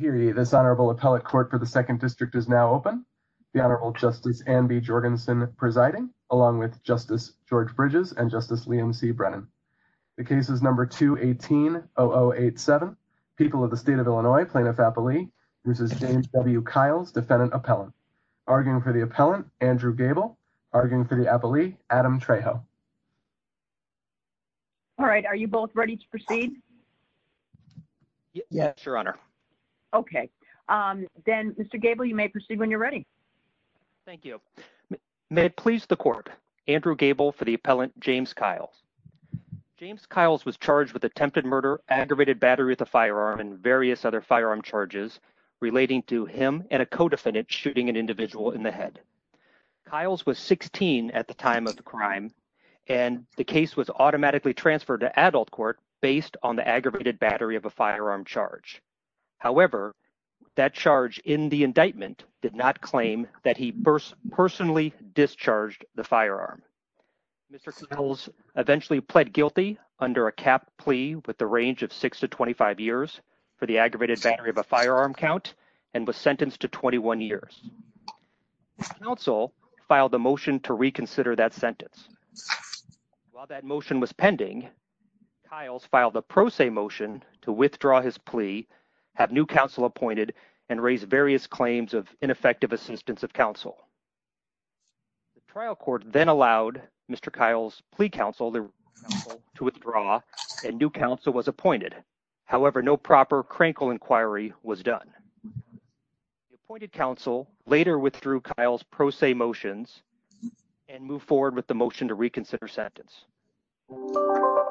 This honorable appellate court for the 2nd District is now open. The Honorable Justice Anne B. Jorgensen presiding, along with Justice George Bridges and Justice Liam C. Brennan. The case is number 2180087, People of the State of Illinois, Plaintiff-Appellee v. James W. Kyles, Defendant-Appellant. Arguing for the appellant, Andrew Gable. Arguing for the appellee, Adam Trejo. All right, are you both ready to proceed? Yes, Your Honor. Okay, then Mr. Gable, you may proceed when you're ready. Thank you. May it please the court, Andrew Gable for the appellant, James Kyles. James Kyles was charged with attempted murder, aggravated battery with a firearm, and various other firearm charges relating to him and a co-defendant shooting an individual in the head. Kyles was 16 at the time of the crime, and the case was automatically transferred to adult court based on the aggravated battery of a firearm charge. However, that charge in the indictment did not claim that he personally discharged the firearm. Mr. Kyles eventually pled guilty under a cap plea with the range of 6 to 25 years for the aggravated battery of a firearm count, and was sentenced to 21 years. The counsel filed a motion to reconsider that sentence. While that motion was pending, Kyles filed a pro se motion to withdraw his plea, have new counsel appointed, and raise various claims of ineffective assistance of counsel. The trial court then allowed Mr. Kyles' plea counsel to withdraw, and new counsel was appointed. However, no proper crankle inquiry was done. The appointed counsel later withdrew Kyles' pro se motions and moved forward with the motion to reconsider sentence. The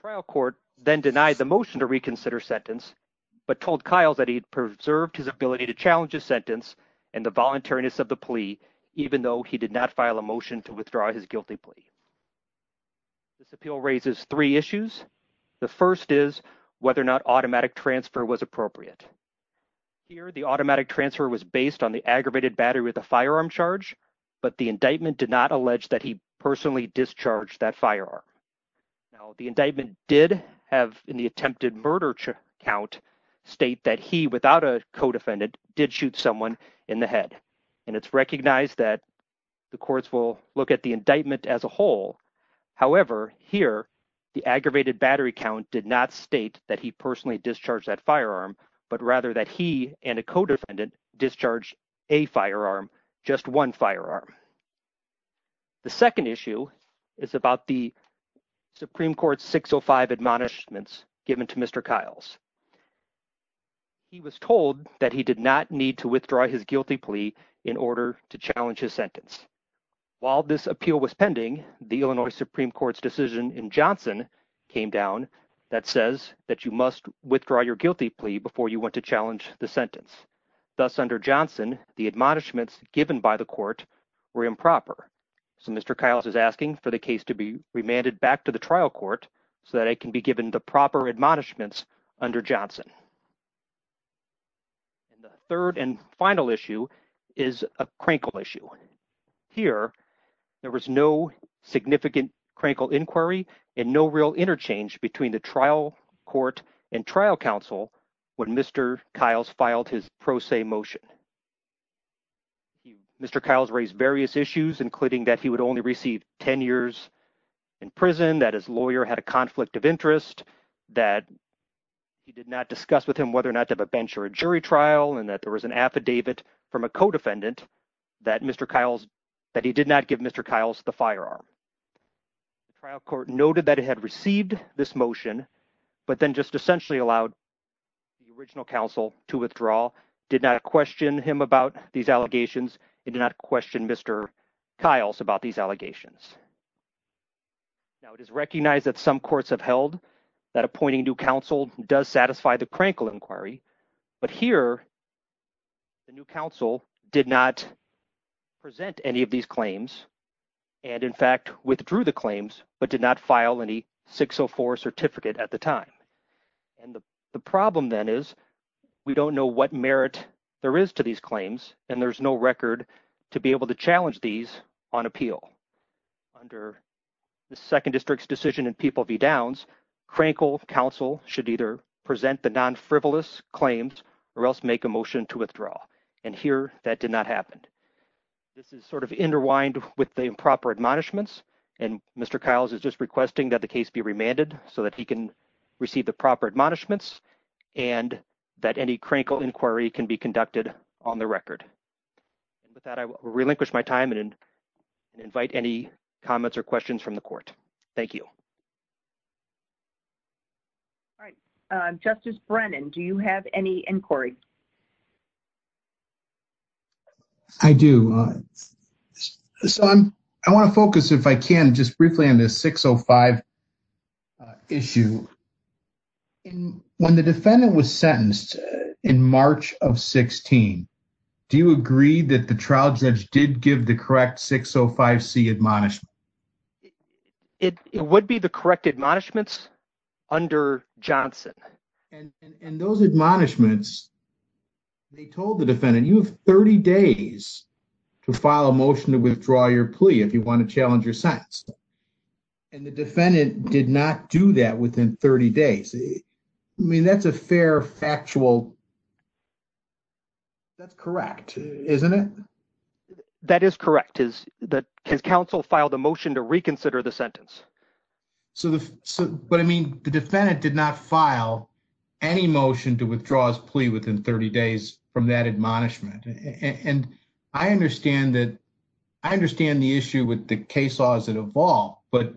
trial court then denied the motion to reconsider sentence, but told Kyles that he had preserved his ability to challenge his sentence and the voluntariness of the plea even though he did not file a motion to withdraw his guilty plea. This appeal raises three issues. The first is whether or not automatic transfer was appropriate. Here, the automatic transfer was based on the aggravated battery of the firearm charge, but the indictment did not allege that he personally discharged that firearm. The indictment did have in the attempted murder count state that he, without a co-defendant, did shoot someone in the head. And it's recognized that the courts will look at the indictment as a whole. However, here, the aggravated battery count did not state that he personally discharged that firearm, but rather that he and a co-defendant discharged a firearm, just one firearm. The second issue is about the Supreme Court 605 admonishments given to Mr. Kyles. He was told that he did not need to withdraw his guilty plea in order to challenge his sentence. While this appeal was pending, the Illinois Supreme Court's decision in Johnson came down that says that you must withdraw your guilty plea before you want to challenge the sentence. Thus, under Johnson, the admonishments given by the court were improper. So, Mr. Kyles is asking for the case to be remanded back to the trial court so that it can be given the proper admonishments under Johnson. And the third and final issue is a Krankel issue. Here, there was no significant Krankel inquiry and no real interchange between the trial court and trial counsel when Mr. Kyles filed his pro se motion. Mr. Kyles raised various issues, including that he would only receive 10 years in prison, that his lawyer had a conflict of interest, that he did not discuss with him whether or not to have a bench or a jury trial, and that there was an affidavit from a co-defendant that Mr. Kyles, that he did not give Mr. Kyles the firearm. The trial court noted that it had received this motion, but then just essentially allowed the original counsel to withdraw, did not question him about these allegations, and did not question Mr. Kyles about these allegations. Now, it is recognized that some courts have held that appointing new counsel does satisfy the Krankel inquiry. But here, the new counsel did not present any of these claims, and in fact, withdrew the claims, but did not file any 604 certificate at the time. And the problem then is, we don't know what merit there is to these claims, and there's no record to be able to challenge these on appeal. Under the Second District's decision in People v. Downs, Krankel counsel should either present the non-frivolous claims or else make a motion to withdraw. And here, that did not happen. This is sort of interwined with the improper admonishments, and Mr. Kyles is just requesting that the case be remanded so that he can receive the proper admonishments, and that any Krankel inquiry can be conducted on the record. And with that, I will relinquish my time and invite any comments or questions from the court. Thank you. All right. Justice Brennan, do you have any inquiry? I do. So, I want to focus, if I can, just briefly on this 605 issue. When the defendant was sentenced in March of 16, do you agree that the trial judge did give the correct 605C admonishment? It would be the correct admonishments under Johnson. And those admonishments, they told the defendant, you have 30 days to file a motion to withdraw your plea if you want to challenge your sentence. And the defendant did not do that within 30 days. I mean, that's a fair, factual... That's correct, isn't it? That is correct. Has counsel filed a motion to reconsider the sentence? But, I mean, the defendant did not file any motion to withdraw his plea within 30 days from that admonishment. And I understand the issue with the case laws that evolved, but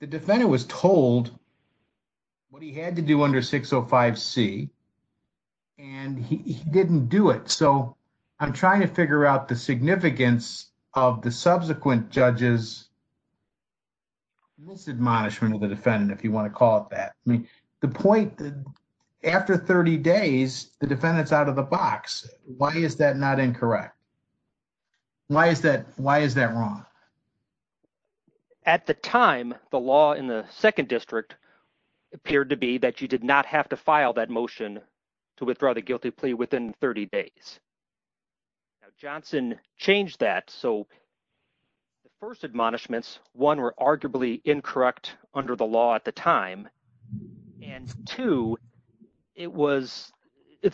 the defendant was told what he had to do under 605C, and he didn't do it. So, I'm trying to figure out the significance of the subsequent judge's misadmonishment of the defendant, if you want to call it that. The point, after 30 days, the defendant's out of the box. Why is that not incorrect? Why is that wrong? At the time, the law in the 2nd District appeared to be that you did not have to file that motion to withdraw the guilty plea within 30 days. Johnson changed that, so the first admonishments, one, were arguably incorrect under the law at the time, and two, it's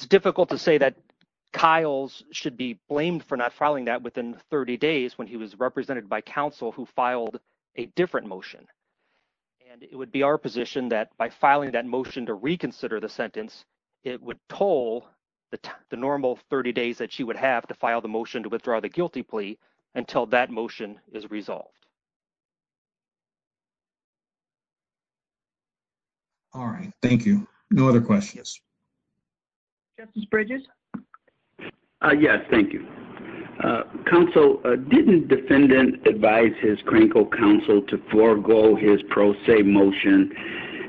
difficult to say that Kyles should be blamed for not filing that within 30 days when he was represented by counsel who filed a different motion. And it would be our position that by filing that motion to reconsider the sentence, it would toll the normal 30 days that she would have to file the motion to withdraw the guilty plea until that motion is resolved. All right. Thank you. No other questions? Yes. Justice Bridges? Yes. Thank you. Counsel, didn't defendant advise his crankle counsel to forego his pro se motion,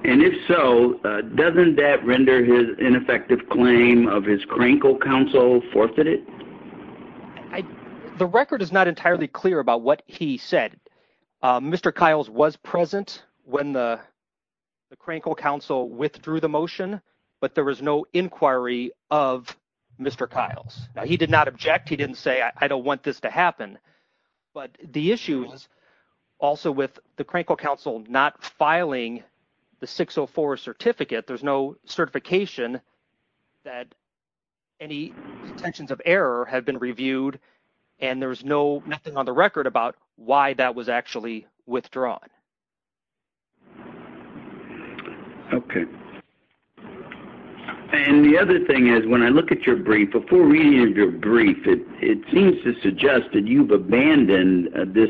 and if so, doesn't that render his ineffective claim of his crankle counsel forfeited? The record is not entirely clear about what he said. Mr. Kyles was present when the crankle counsel withdrew the motion, but there was no inquiry of Mr. Kyles. Now, he did not object. He didn't say, I don't want this to happen, but the issues also with the crankle counsel not filing the 604 certificate, there's no certification that any intentions of error had been reviewed, and there's no, nothing on the record about why that was actually withdrawn. Okay. And the other thing is, when I look at your brief, before reading your brief, it seems to suggest that you've abandoned this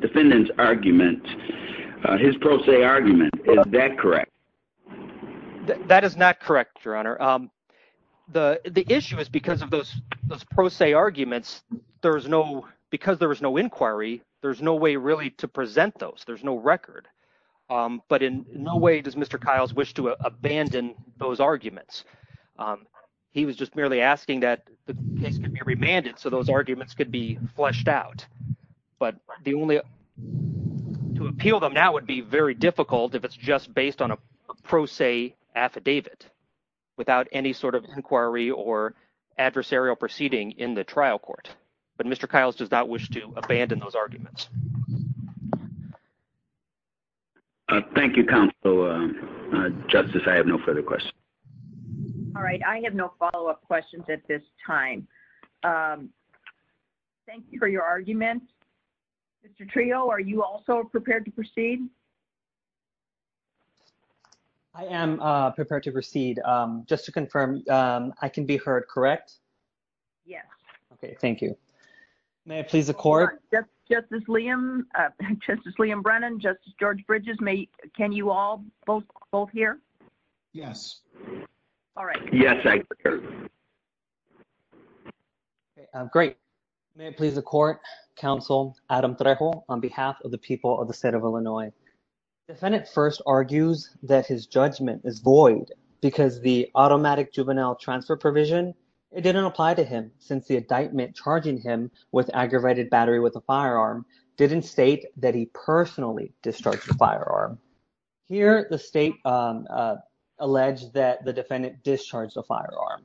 defendant's argument, his pro se argument. Is that correct? That is not correct, Your Honor. The issue is because of those pro se arguments, there's no, because there was no inquiry, there's no way really to present those. There's no record. But in no way does Mr. Kyles wish to abandon those arguments. He was just merely asking that the case could be remanded so those arguments could be fleshed out. But the only, to appeal them now would be very difficult if it's just based on a pro se argument without any sort of inquiry or adversarial proceeding in the trial court. But Mr. Kyles does not wish to abandon those arguments. Thank you, Counselor. Justice, I have no further questions. All right. I have no follow up questions at this time. Thank you for your argument. Mr. Trio, are you also prepared to proceed? I am prepared to proceed. Just to confirm, I can be heard, correct? Yes. Okay, thank you. May I please the court? Justice Liam, Justice Liam Brennan, Justice George Bridges, can you all both hear? Yes. All right. Yes, I can hear. Great. May I please the court, Counsel Adam Trejo, on behalf of the people of the state of Illinois. The defendant first argues that his judgment is void because the automatic juvenile transfer provision, it didn't apply to him since the indictment charging him with aggravated battery with a firearm didn't state that he personally discharged the firearm. Here the state alleged that the defendant discharged the firearm.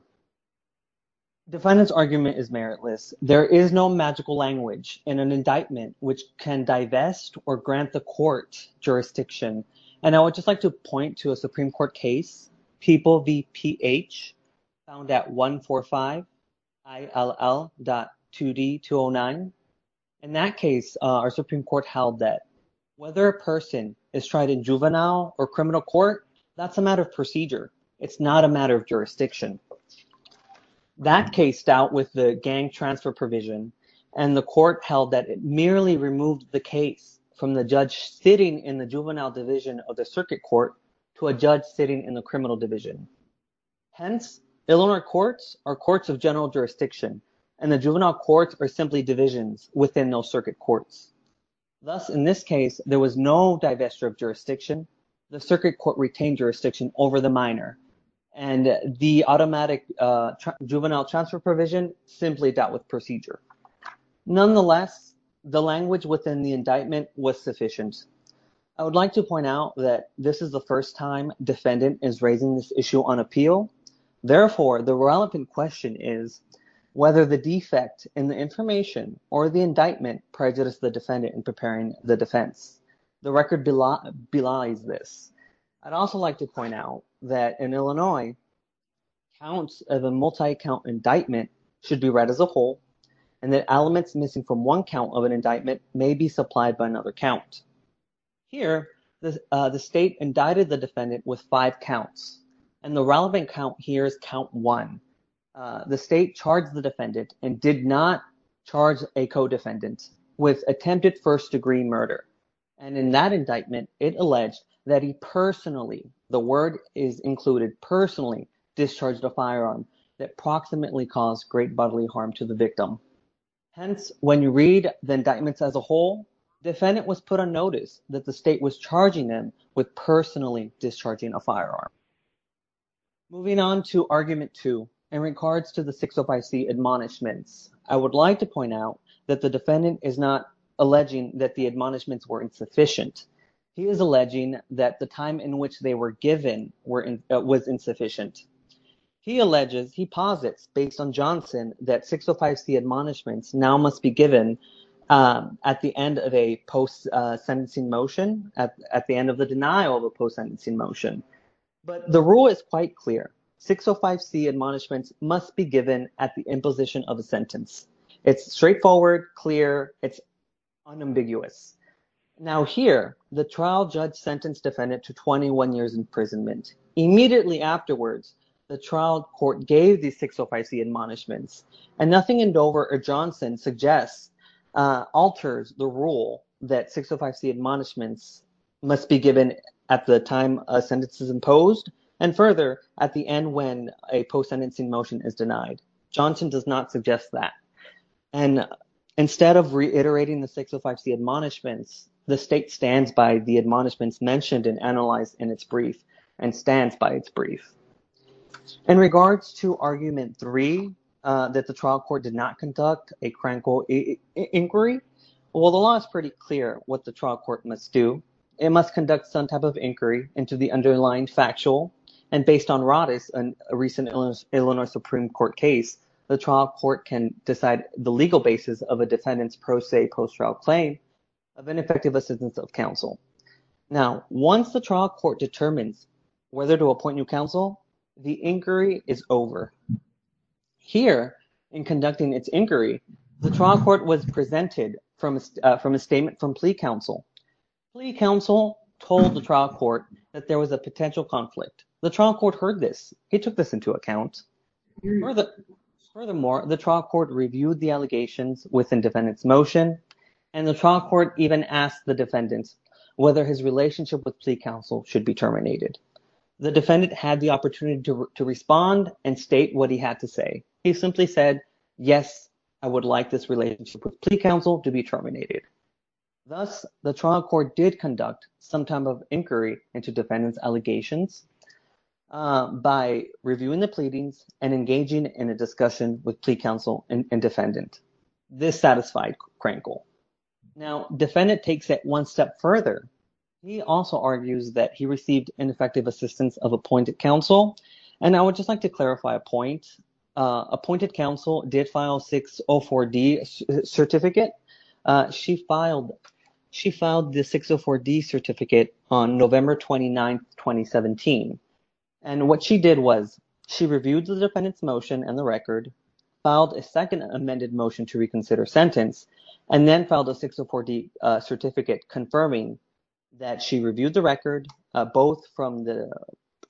Defendant's argument is meritless. There is no magical language in an indictment which can divest or grant the court jurisdiction. And I would just like to point to a Supreme Court case, People v. PH, found at 145-ILL.2D-209. In that case, our Supreme Court held that whether a person is tried in juvenile or criminal court, that's a matter of procedure. It's not a matter of jurisdiction. That case dealt with the gang transfer provision and the court held that it merely removed the case from the judge sitting in the juvenile division of the circuit court to a judge sitting in the criminal division. Hence, Illinois courts are courts of general jurisdiction and the juvenile courts are simply divisions within those circuit courts. Thus, in this case, there was no divestiture of jurisdiction. The circuit court retained jurisdiction over the minor. And the automatic juvenile transfer provision simply dealt with procedure. Nonetheless, the language within the indictment was sufficient. I would like to point out that this is the first time defendant is raising this issue on appeal. Therefore, the relevant question is whether the defect in the information or the indictment prejudiced the defendant in preparing the defense. The record belies this. I'd also like to point out that in Illinois, counts of a multi-count indictment should be read as a whole and that elements missing from one count of an indictment may be supplied by another count. Here, the state indicted the defendant with five counts. And the relevant count here is count one. The state charged the defendant and did not charge a co-defendant with attempted first degree murder. And in that indictment, it alleged that he personally, the word is included, personally discharged a firearm that approximately caused great bodily harm to the victim. Hence, when you read the indictments as a whole, defendant was put on notice that the state was charging them with personally discharging a firearm. Moving on to argument two, in regards to the 605C admonishments, I would like to point out that the defendant is not alleging that the admonishments were insufficient. He is alleging that the time in which they were given was insufficient. He alleges, he posits, based on Johnson, that 605C admonishments now must be given at the end of a post-sentencing motion, at the end of the denial of a post-sentencing motion. But the rule is quite clear, 605C admonishments must be given at the imposition of a sentence. It's straightforward, clear, it's unambiguous. Now here, the trial judge sentenced defendant to 21 years imprisonment. Immediately afterwards, the trial court gave the 605C admonishments, and nothing in Dover or Johnson suggests, alters the rule that 605C admonishments must be given at the time a sentence is imposed, and further, at the end when a post-sentencing motion is denied. Johnson does not suggest that. And instead of reiterating the 605C admonishments, the state stands by the admonishments mentioned and analyzed in its brief, and stands by its brief. In regards to Argument 3, that the trial court did not conduct a crankle inquiry, while the law is pretty clear what the trial court must do, it must conduct some type of inquiry into the underlying factual, and based on Roddice, a recent Illinois Supreme Court case, the trial court can decide the legal basis of a defendant's pro se post-trial claim of ineffective assistance of counsel. Now once the trial court determines whether to appoint new counsel, the inquiry is over. Here, in conducting its inquiry, the trial court was presented from a statement from plea counsel. Plea counsel told the trial court that there was a potential conflict. The trial court heard this. It took this into account. Furthermore, the trial court reviewed the allegations within defendant's motion, and the trial court even asked the defendants whether his relationship with plea counsel should be terminated. The defendant had the opportunity to respond and state what he had to say. He simply said, yes, I would like this relationship with plea counsel to be terminated. Thus, the trial court did conduct some type of inquiry into defendant's allegations by reviewing the pleadings and engaging in a discussion with plea counsel and defendant. This satisfied Krankel. Now, defendant takes it one step further. He also argues that he received ineffective assistance of appointed counsel, and I would just like to clarify a point. Appointed counsel did file 604D certificate. She filed the 604D certificate on November 29, 2017, and what she did was she reviewed the defendant's motion and the record, filed a second amended motion to reconsider sentence, and then filed a 604D certificate confirming that she reviewed the record both from the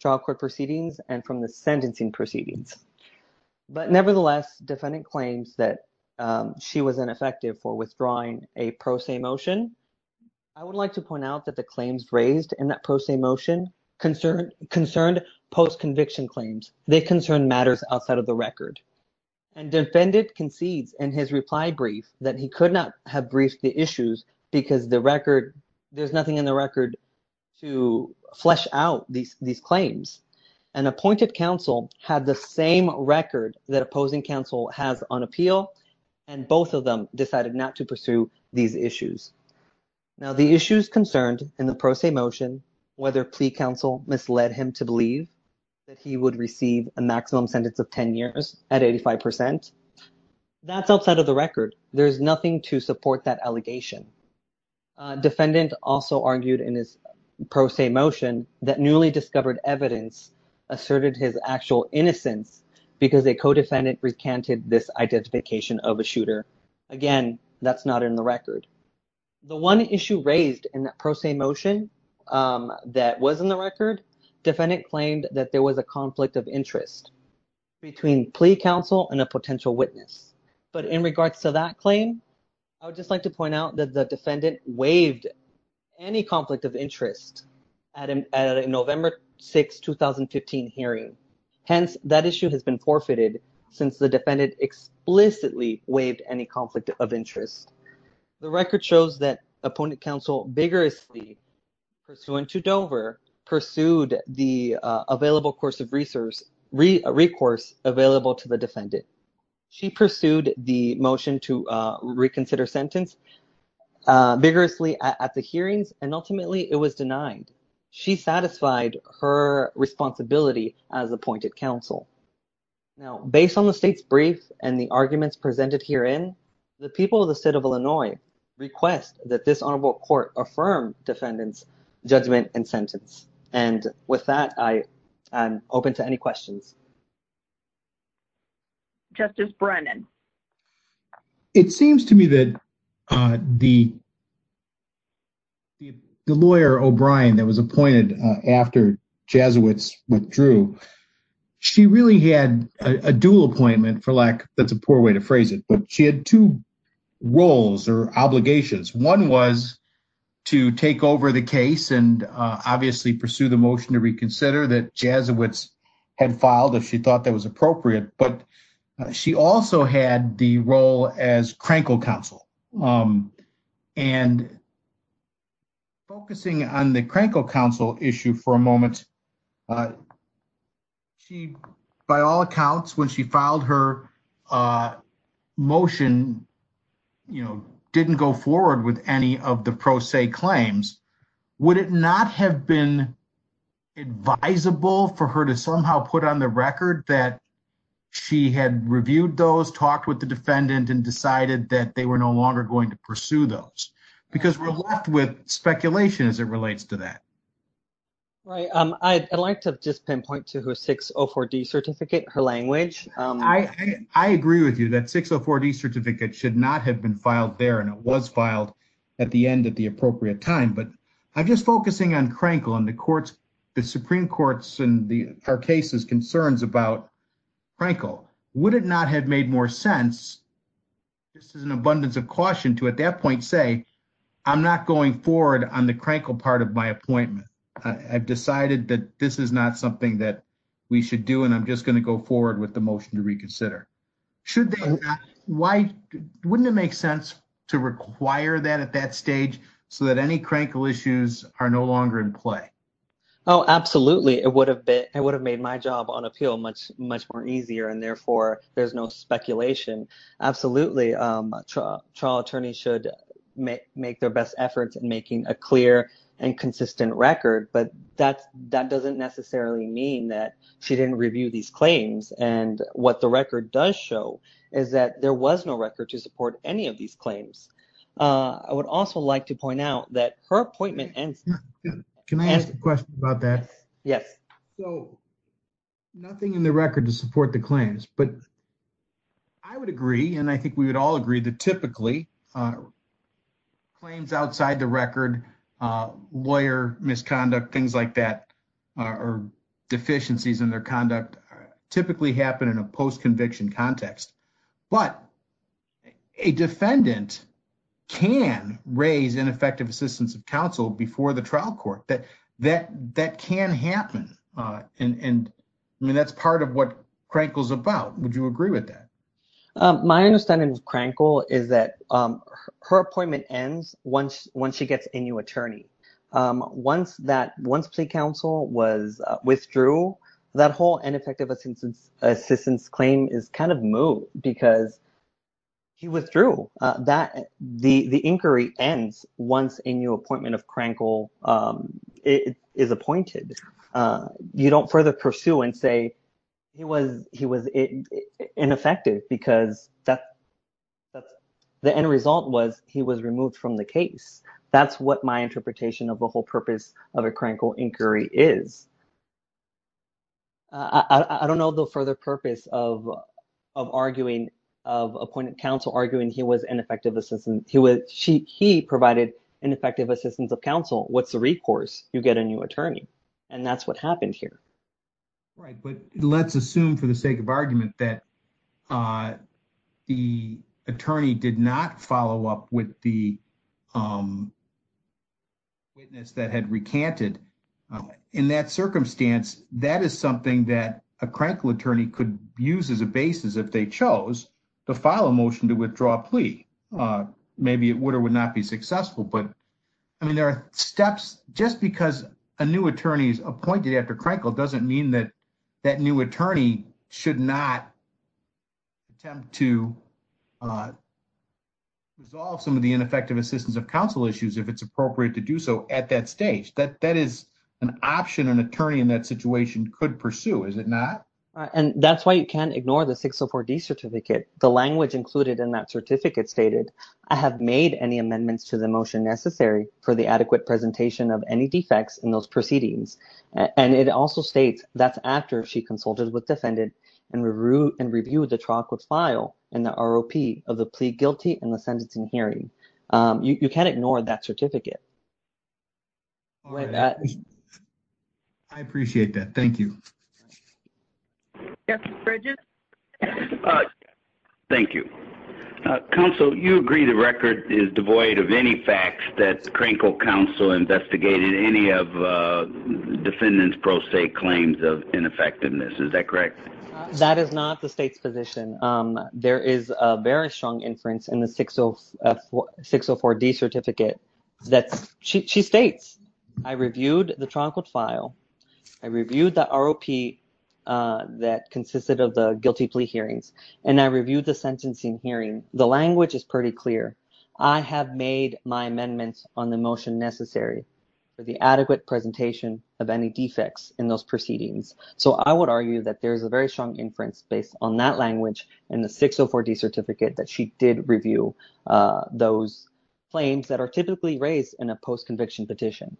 trial court proceedings and from the sentencing proceedings. But nevertheless, defendant claims that she was ineffective for withdrawing a pro se motion. I would like to point out that the claims raised in that pro se motion concerned post-conviction claims. They concern matters outside of the record, and defendant concedes in his reply brief that he could not have briefed the issues because the record, there's nothing in the record to flesh out these claims. An appointed counsel had the same record that opposing counsel has on appeal, and both of them decided not to pursue these issues. Now, the issues concerned in the pro se motion, whether plea counsel misled him to believe that he would receive a maximum sentence of 10 years at 85%, that's outside of the record. There's nothing to support that allegation. Defendant also argued in his pro se motion that newly discovered evidence asserted his actual innocence because a co-defendant recanted this identification of a shooter. Again, that's not in the record. The one issue raised in that pro se motion that was in the record, defendant claimed that there was a conflict of interest between plea counsel and a potential witness. But in regards to that claim, I would just like to point out that the defendant waived any conflict of interest at a November 6, 2015 hearing. Hence, that issue has been forfeited since the defendant explicitly waived any conflict of interest. The record shows that appointed counsel vigorously pursuant to Dover pursued the available course of recourse available to the defendant. She pursued the motion to reconsider sentence vigorously at the hearings, and ultimately it was denied. She satisfied her responsibility as appointed counsel. Now, based on the state's brief and the arguments presented herein, the people of the state of Illinois request that this honorable court affirm defendant's judgment and sentence. And with that, I am open to any questions. Justice Brennan. It seems to me that the lawyer, O'Brien, that was appointed after Jesuits withdrew, she really had a dual appointment, for lack, that's a poor way to phrase it, but she had two roles or obligations. One was to take over the case and obviously pursue the motion to reconsider that Jesuits had as appropriate, but she also had the role as Crankle counsel. And focusing on the Crankle counsel issue for a moment, she, by all accounts, when she filed her motion, you know, didn't go forward with any of the pro se claims. Would it not have been advisable for her to somehow put on the record that she had reviewed those, talked with the defendant, and decided that they were no longer going to pursue those? Because we're left with speculation as it relates to that. Right. I'd like to just pinpoint to her 604D certificate, her language. I agree with you that 604D certificate should not have been filed there, and it was filed at the end at the appropriate time, but I'm just focusing on Crankle and the Supreme Court's and our case's concerns about Crankle. Would it not have made more sense, just as an abundance of caution, to at that point say, I'm not going forward on the Crankle part of my appointment. I've decided that this is not something that we should do, and I'm just going to go forward with the motion to reconsider. Wouldn't it make sense to require that at that stage so that any Crankle issues are no longer in play? Oh, absolutely. It would have made my job on appeal much more easier, and therefore there's no speculation. Absolutely. Trial attorneys should make their best efforts in making a clear and consistent record, but that doesn't necessarily mean that she didn't review these claims and what the record does show is that there was no record to support any of these claims. I would also like to point out that her appointment ends... Can I ask a question about that? Yes. So, nothing in the record to support the claims, but I would agree, and I think we would all agree, that typically claims outside the record, lawyer misconduct, things like that, or deficiencies in their conduct typically happen in a post-conviction context, but a defendant can raise ineffective assistance of counsel before the trial court. That can happen, and that's part of what Crankle's about. Would you agree with that? My understanding of Crankle is that her appointment ends once she gets a new attorney. Once plea counsel was withdrew, that whole ineffective assistance claim is kind of moot because he withdrew. The inquiry ends once a new appointment of Crankle is appointed. You don't further pursue and say he was ineffective because the end result was he was removed from the case. That's what my interpretation of the whole purpose of a Crankle inquiry is. I don't know the further purpose of arguing, of appointed counsel arguing he was ineffective assistance. He provided ineffective assistance of counsel. What's the recourse? You get a new attorney, and that's what happened here. Let's assume for the sake of argument that the attorney did not follow up with the witness that had recanted. In that circumstance, that is something that a Crankle attorney could use as a basis if they chose to file a motion to withdraw a plea. Maybe it would or would not be successful. There are steps. Just because a new attorney is appointed after Crankle doesn't mean that that new attorney should not attempt to resolve some of the ineffective assistance of counsel issues if it's appropriate to do so at that stage. That is an option an attorney in that situation could pursue, is it not? That's why you can't ignore the 604D certificate. The language included in that certificate stated, I have made any amendments to the motion necessary for the adequate presentation of any defects in those proceedings. And it also states that's after she consulted with defendant and reviewed the trial court file and the ROP of the plea guilty and the sentencing hearing. You can't ignore that certificate. I appreciate that. Thank you. Yes, Bridget? Thank you. Counsel, you agree the record is devoid of any facts that Crankle counsel investigated any of defendant's pro se claims of ineffectiveness, is that correct? That is not the state's position. There is a very strong inference in the 604D certificate that she states, I reviewed the trial court file. I reviewed the ROP that consisted of the guilty plea hearings. And I reviewed the sentencing hearing. The language is pretty clear. I have made my amendments on the motion necessary for the adequate presentation of any defects in those proceedings. So I would argue that there is a very strong inference based on that language in the 604D certificate that she did review those claims that are typically raised in a post conviction petition.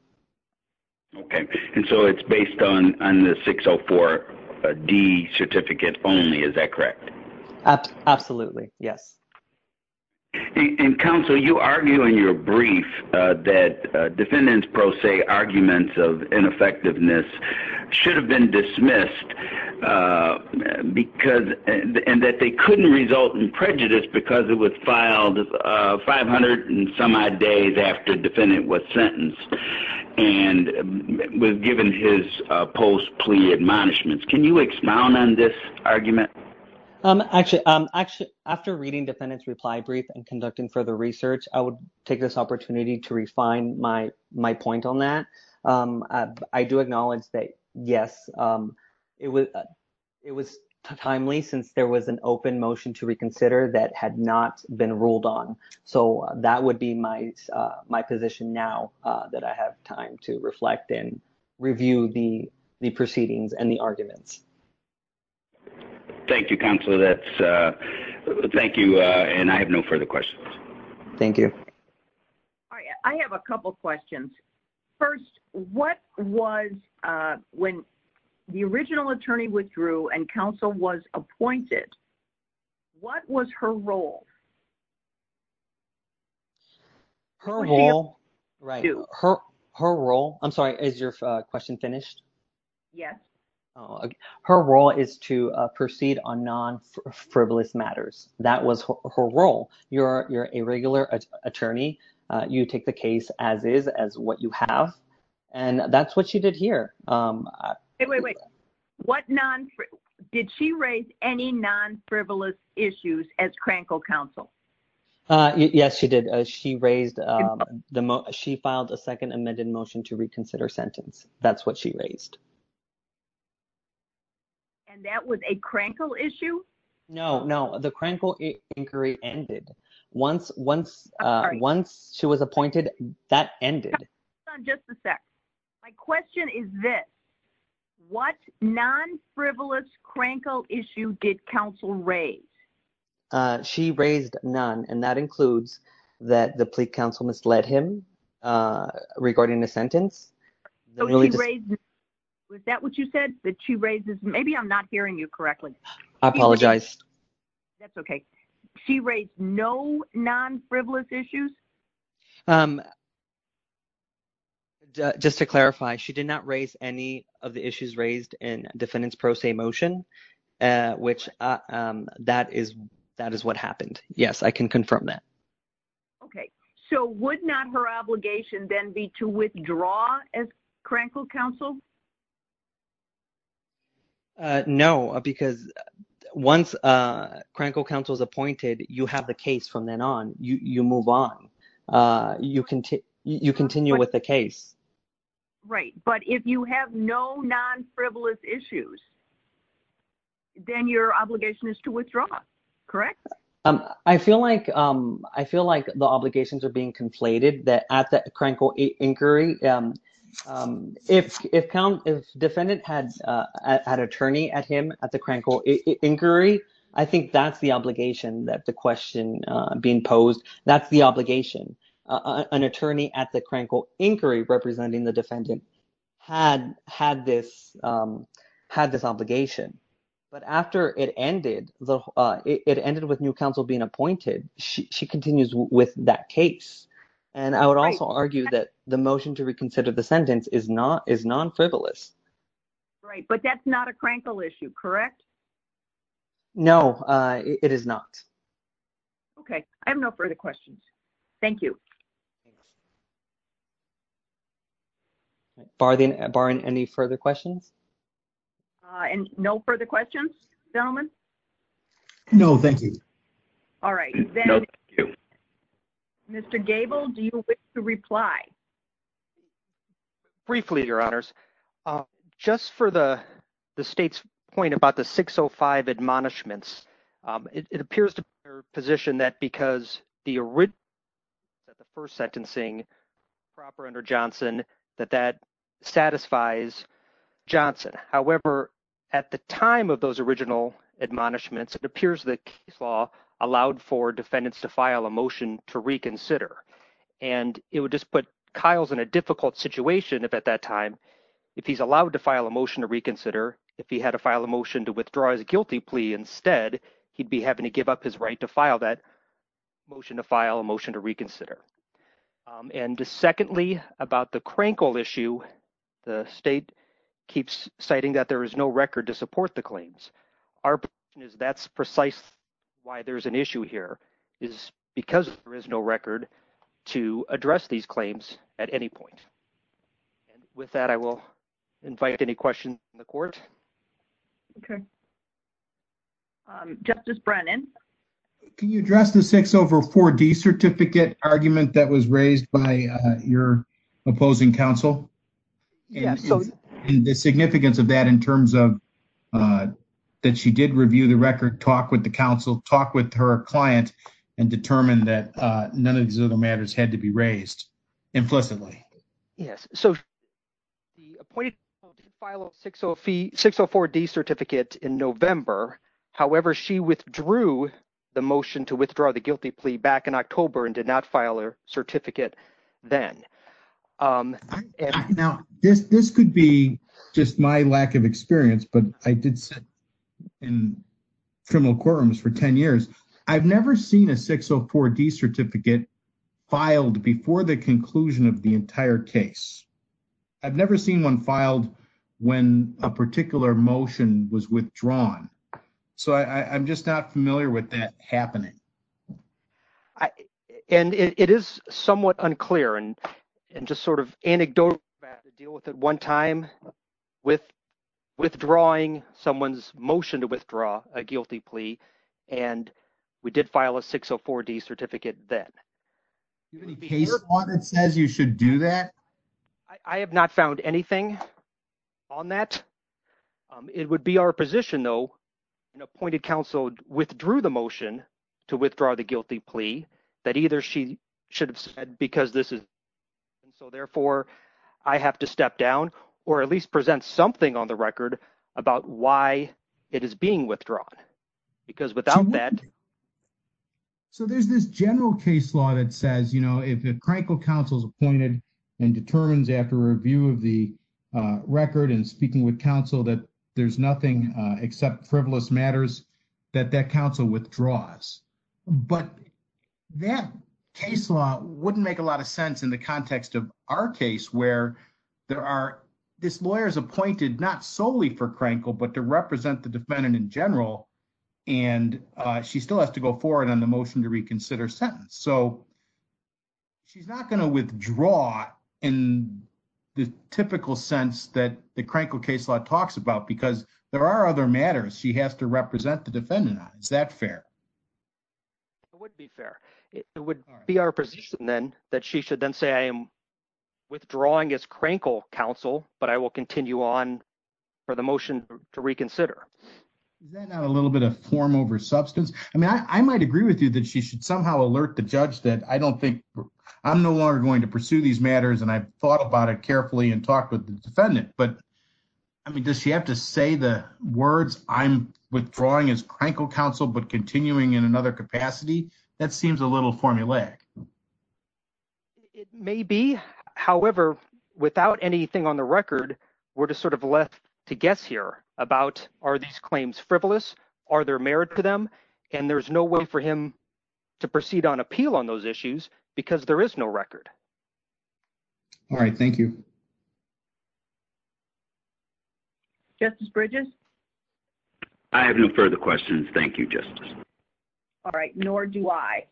Okay. So it's based on the 604D certificate only, is that correct? Absolutely. Yes. Counsel, you argue in your brief that defendant's pro se arguments of ineffectiveness should have been dismissed because and that they couldn't result in prejudice because it was given his post plea admonishments. Can you expound on this argument? Actually, after reading defendant's reply brief and conducting further research, I would take this opportunity to refine my point on that. I do acknowledge that, yes, it was timely since there was an open motion to reconsider that had not been ruled on. So that would be my position now that I have time to reflect and review the proceedings and the arguments. Thank you, Counselor. Thank you. And I have no further questions. Thank you. I have a couple of questions. First, what was when the original attorney withdrew and counsel was appointed, what was her role? Her role, right, her role, I'm sorry, is your question finished? Yes. Her role is to proceed on non-frivolous matters. That was her role. You're a regular attorney. You take the case as is, as what you have. And that's what she did here. Wait, wait, wait. Did she raise any non-frivolous issues as Crankle Counsel? Yes, she did. She raised, she filed a second amended motion to reconsider sentence. That's what she raised. And that was a Crankle issue? No, no. The Crankle inquiry ended. Once she was appointed, that ended. Just a sec. My question is this. What non-frivolous Crankle issue did counsel raise? She raised none. And that includes that the plea counsel misled him regarding the sentence. So she raised none. Was that what you said? That she raises, maybe I'm not hearing you correctly. I apologize. That's okay. She raised no non-frivolous issues? Just to clarify, she did not raise any of the issues raised in defendant's pro se motion, which that is what happened. Yes, I can confirm that. Okay. So would not her obligation then be to withdraw as Crankle Counsel? No, because once Crankle Counsel is appointed, you have the case from then on. You move on. You continue with the case. Right. But if you have no non-frivolous issues, then your obligation is to withdraw. Correct? I feel like the obligations are being conflated at the Crankle inquiry. If defendant had attorney at him at the Crankle inquiry, I think that's the obligation that the question being posed. That's the obligation. An attorney at the Crankle inquiry, representing the defendant, had this obligation. But after it ended with new counsel being appointed, she continues with that case. And I would also argue that the motion to reconsider the sentence is non-frivolous. Right. But that's not a Crankle issue, correct? No, it is not. Okay. I have no further questions. Thank you. Barring any further questions? And no further questions, gentlemen? No, thank you. All right. Mr. Gable, do you wish to reply? Briefly, your honors. Just for the state's point about the 605 admonishments, it appears to position that because the original, that the first sentencing proper under Johnson, that that satisfies Johnson. However, at the time of those original admonishments, it appears that case law allowed for defendants to file a motion to reconsider. And it would just put Kyle's in a difficult situation if at that time, if he's allowed to file a motion to reconsider, if he had to file a motion to withdraw his guilty plea, instead, he'd be having to give up his right to file that motion to file a motion to reconsider. And secondly, about the Crankle issue, the state keeps citing that there is no record to support the claims. Our is that's precise. Why there's an issue here is because there is no record to address these claims at any point. And with that, I will invite any questions in the court. Okay. Justice Brennan. Can you address the six over four D certificate argument that was raised by your opposing counsel? Yes. And the significance of that in terms of that, she did review the record, talk with the council, talk with her client and determine that none of these other matters had to be raised implicitly. Yes. So the appointed file six, six or four D certificate in November. However, she withdrew the motion to withdraw the guilty plea back in October and did not file a certificate then. Now this, this could be just my lack of experience, but I did sit in criminal courtrooms for 10 years. I've never seen a six or four D certificate filed before the conclusion of the entire case. I've never seen one filed when a particular motion was withdrawn. So I I'm just not familiar with that happening. And it is somewhat unclear and, and just sort of anecdotal to deal with at one time with withdrawing someone's motion to withdraw a guilty plea. And we did file a six or four D certificate that says you should do that. I have not found anything on that. It would be our position though, an appointed council withdrew the motion to withdraw the guilty plea that either she should have said, because this is. So therefore I have to step down or at least present something on the record about why it is being withdrawn because without that. So there's this general case law that says, you know, if the crankle council's appointed and determines after review of the record and speaking with council that there's nothing except frivolous matters that that council withdraws, but that case law wouldn't make a lot of sense in the context of our case where there are this lawyer is appointed not solely for crankle, but to represent the defendant in general. And she still has to go forward on the motion to reconsider sentence. So she's not going to withdraw in the typical sense that the crankle case law talks about, because there are other matters. She has to represent the defendant. Is that fair? It would be fair. It would be our position then that she should then say, I am withdrawing as crankle council, but I will continue on for the motion to reconsider. Is that not a little bit of form over substance? I mean, I might agree with you that she should somehow alert the judge that I don't think I'm no longer going to pursue these matters. And I've thought about it carefully and talked with the defendant, but I mean, does she have to say the words I'm withdrawing as crankle council, but continuing in another capacity, that seems a little formulaic. It may be, however, without anything on the record, we're just sort of left to guess here about, are these claims frivolous? Are there merit to them? And there's no way for him to proceed on appeal on those issues because there is no record. All right. Thank you. Justice Bridges. I have no further questions. Thank you, justice. All right. Nor do I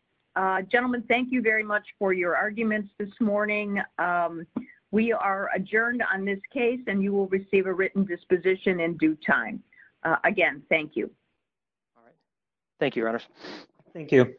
gentlemen. Thank you very much for your arguments this morning. We are adjourned on this case and you will receive a written disposition in due time again. Thank you. Thank you. Thank you.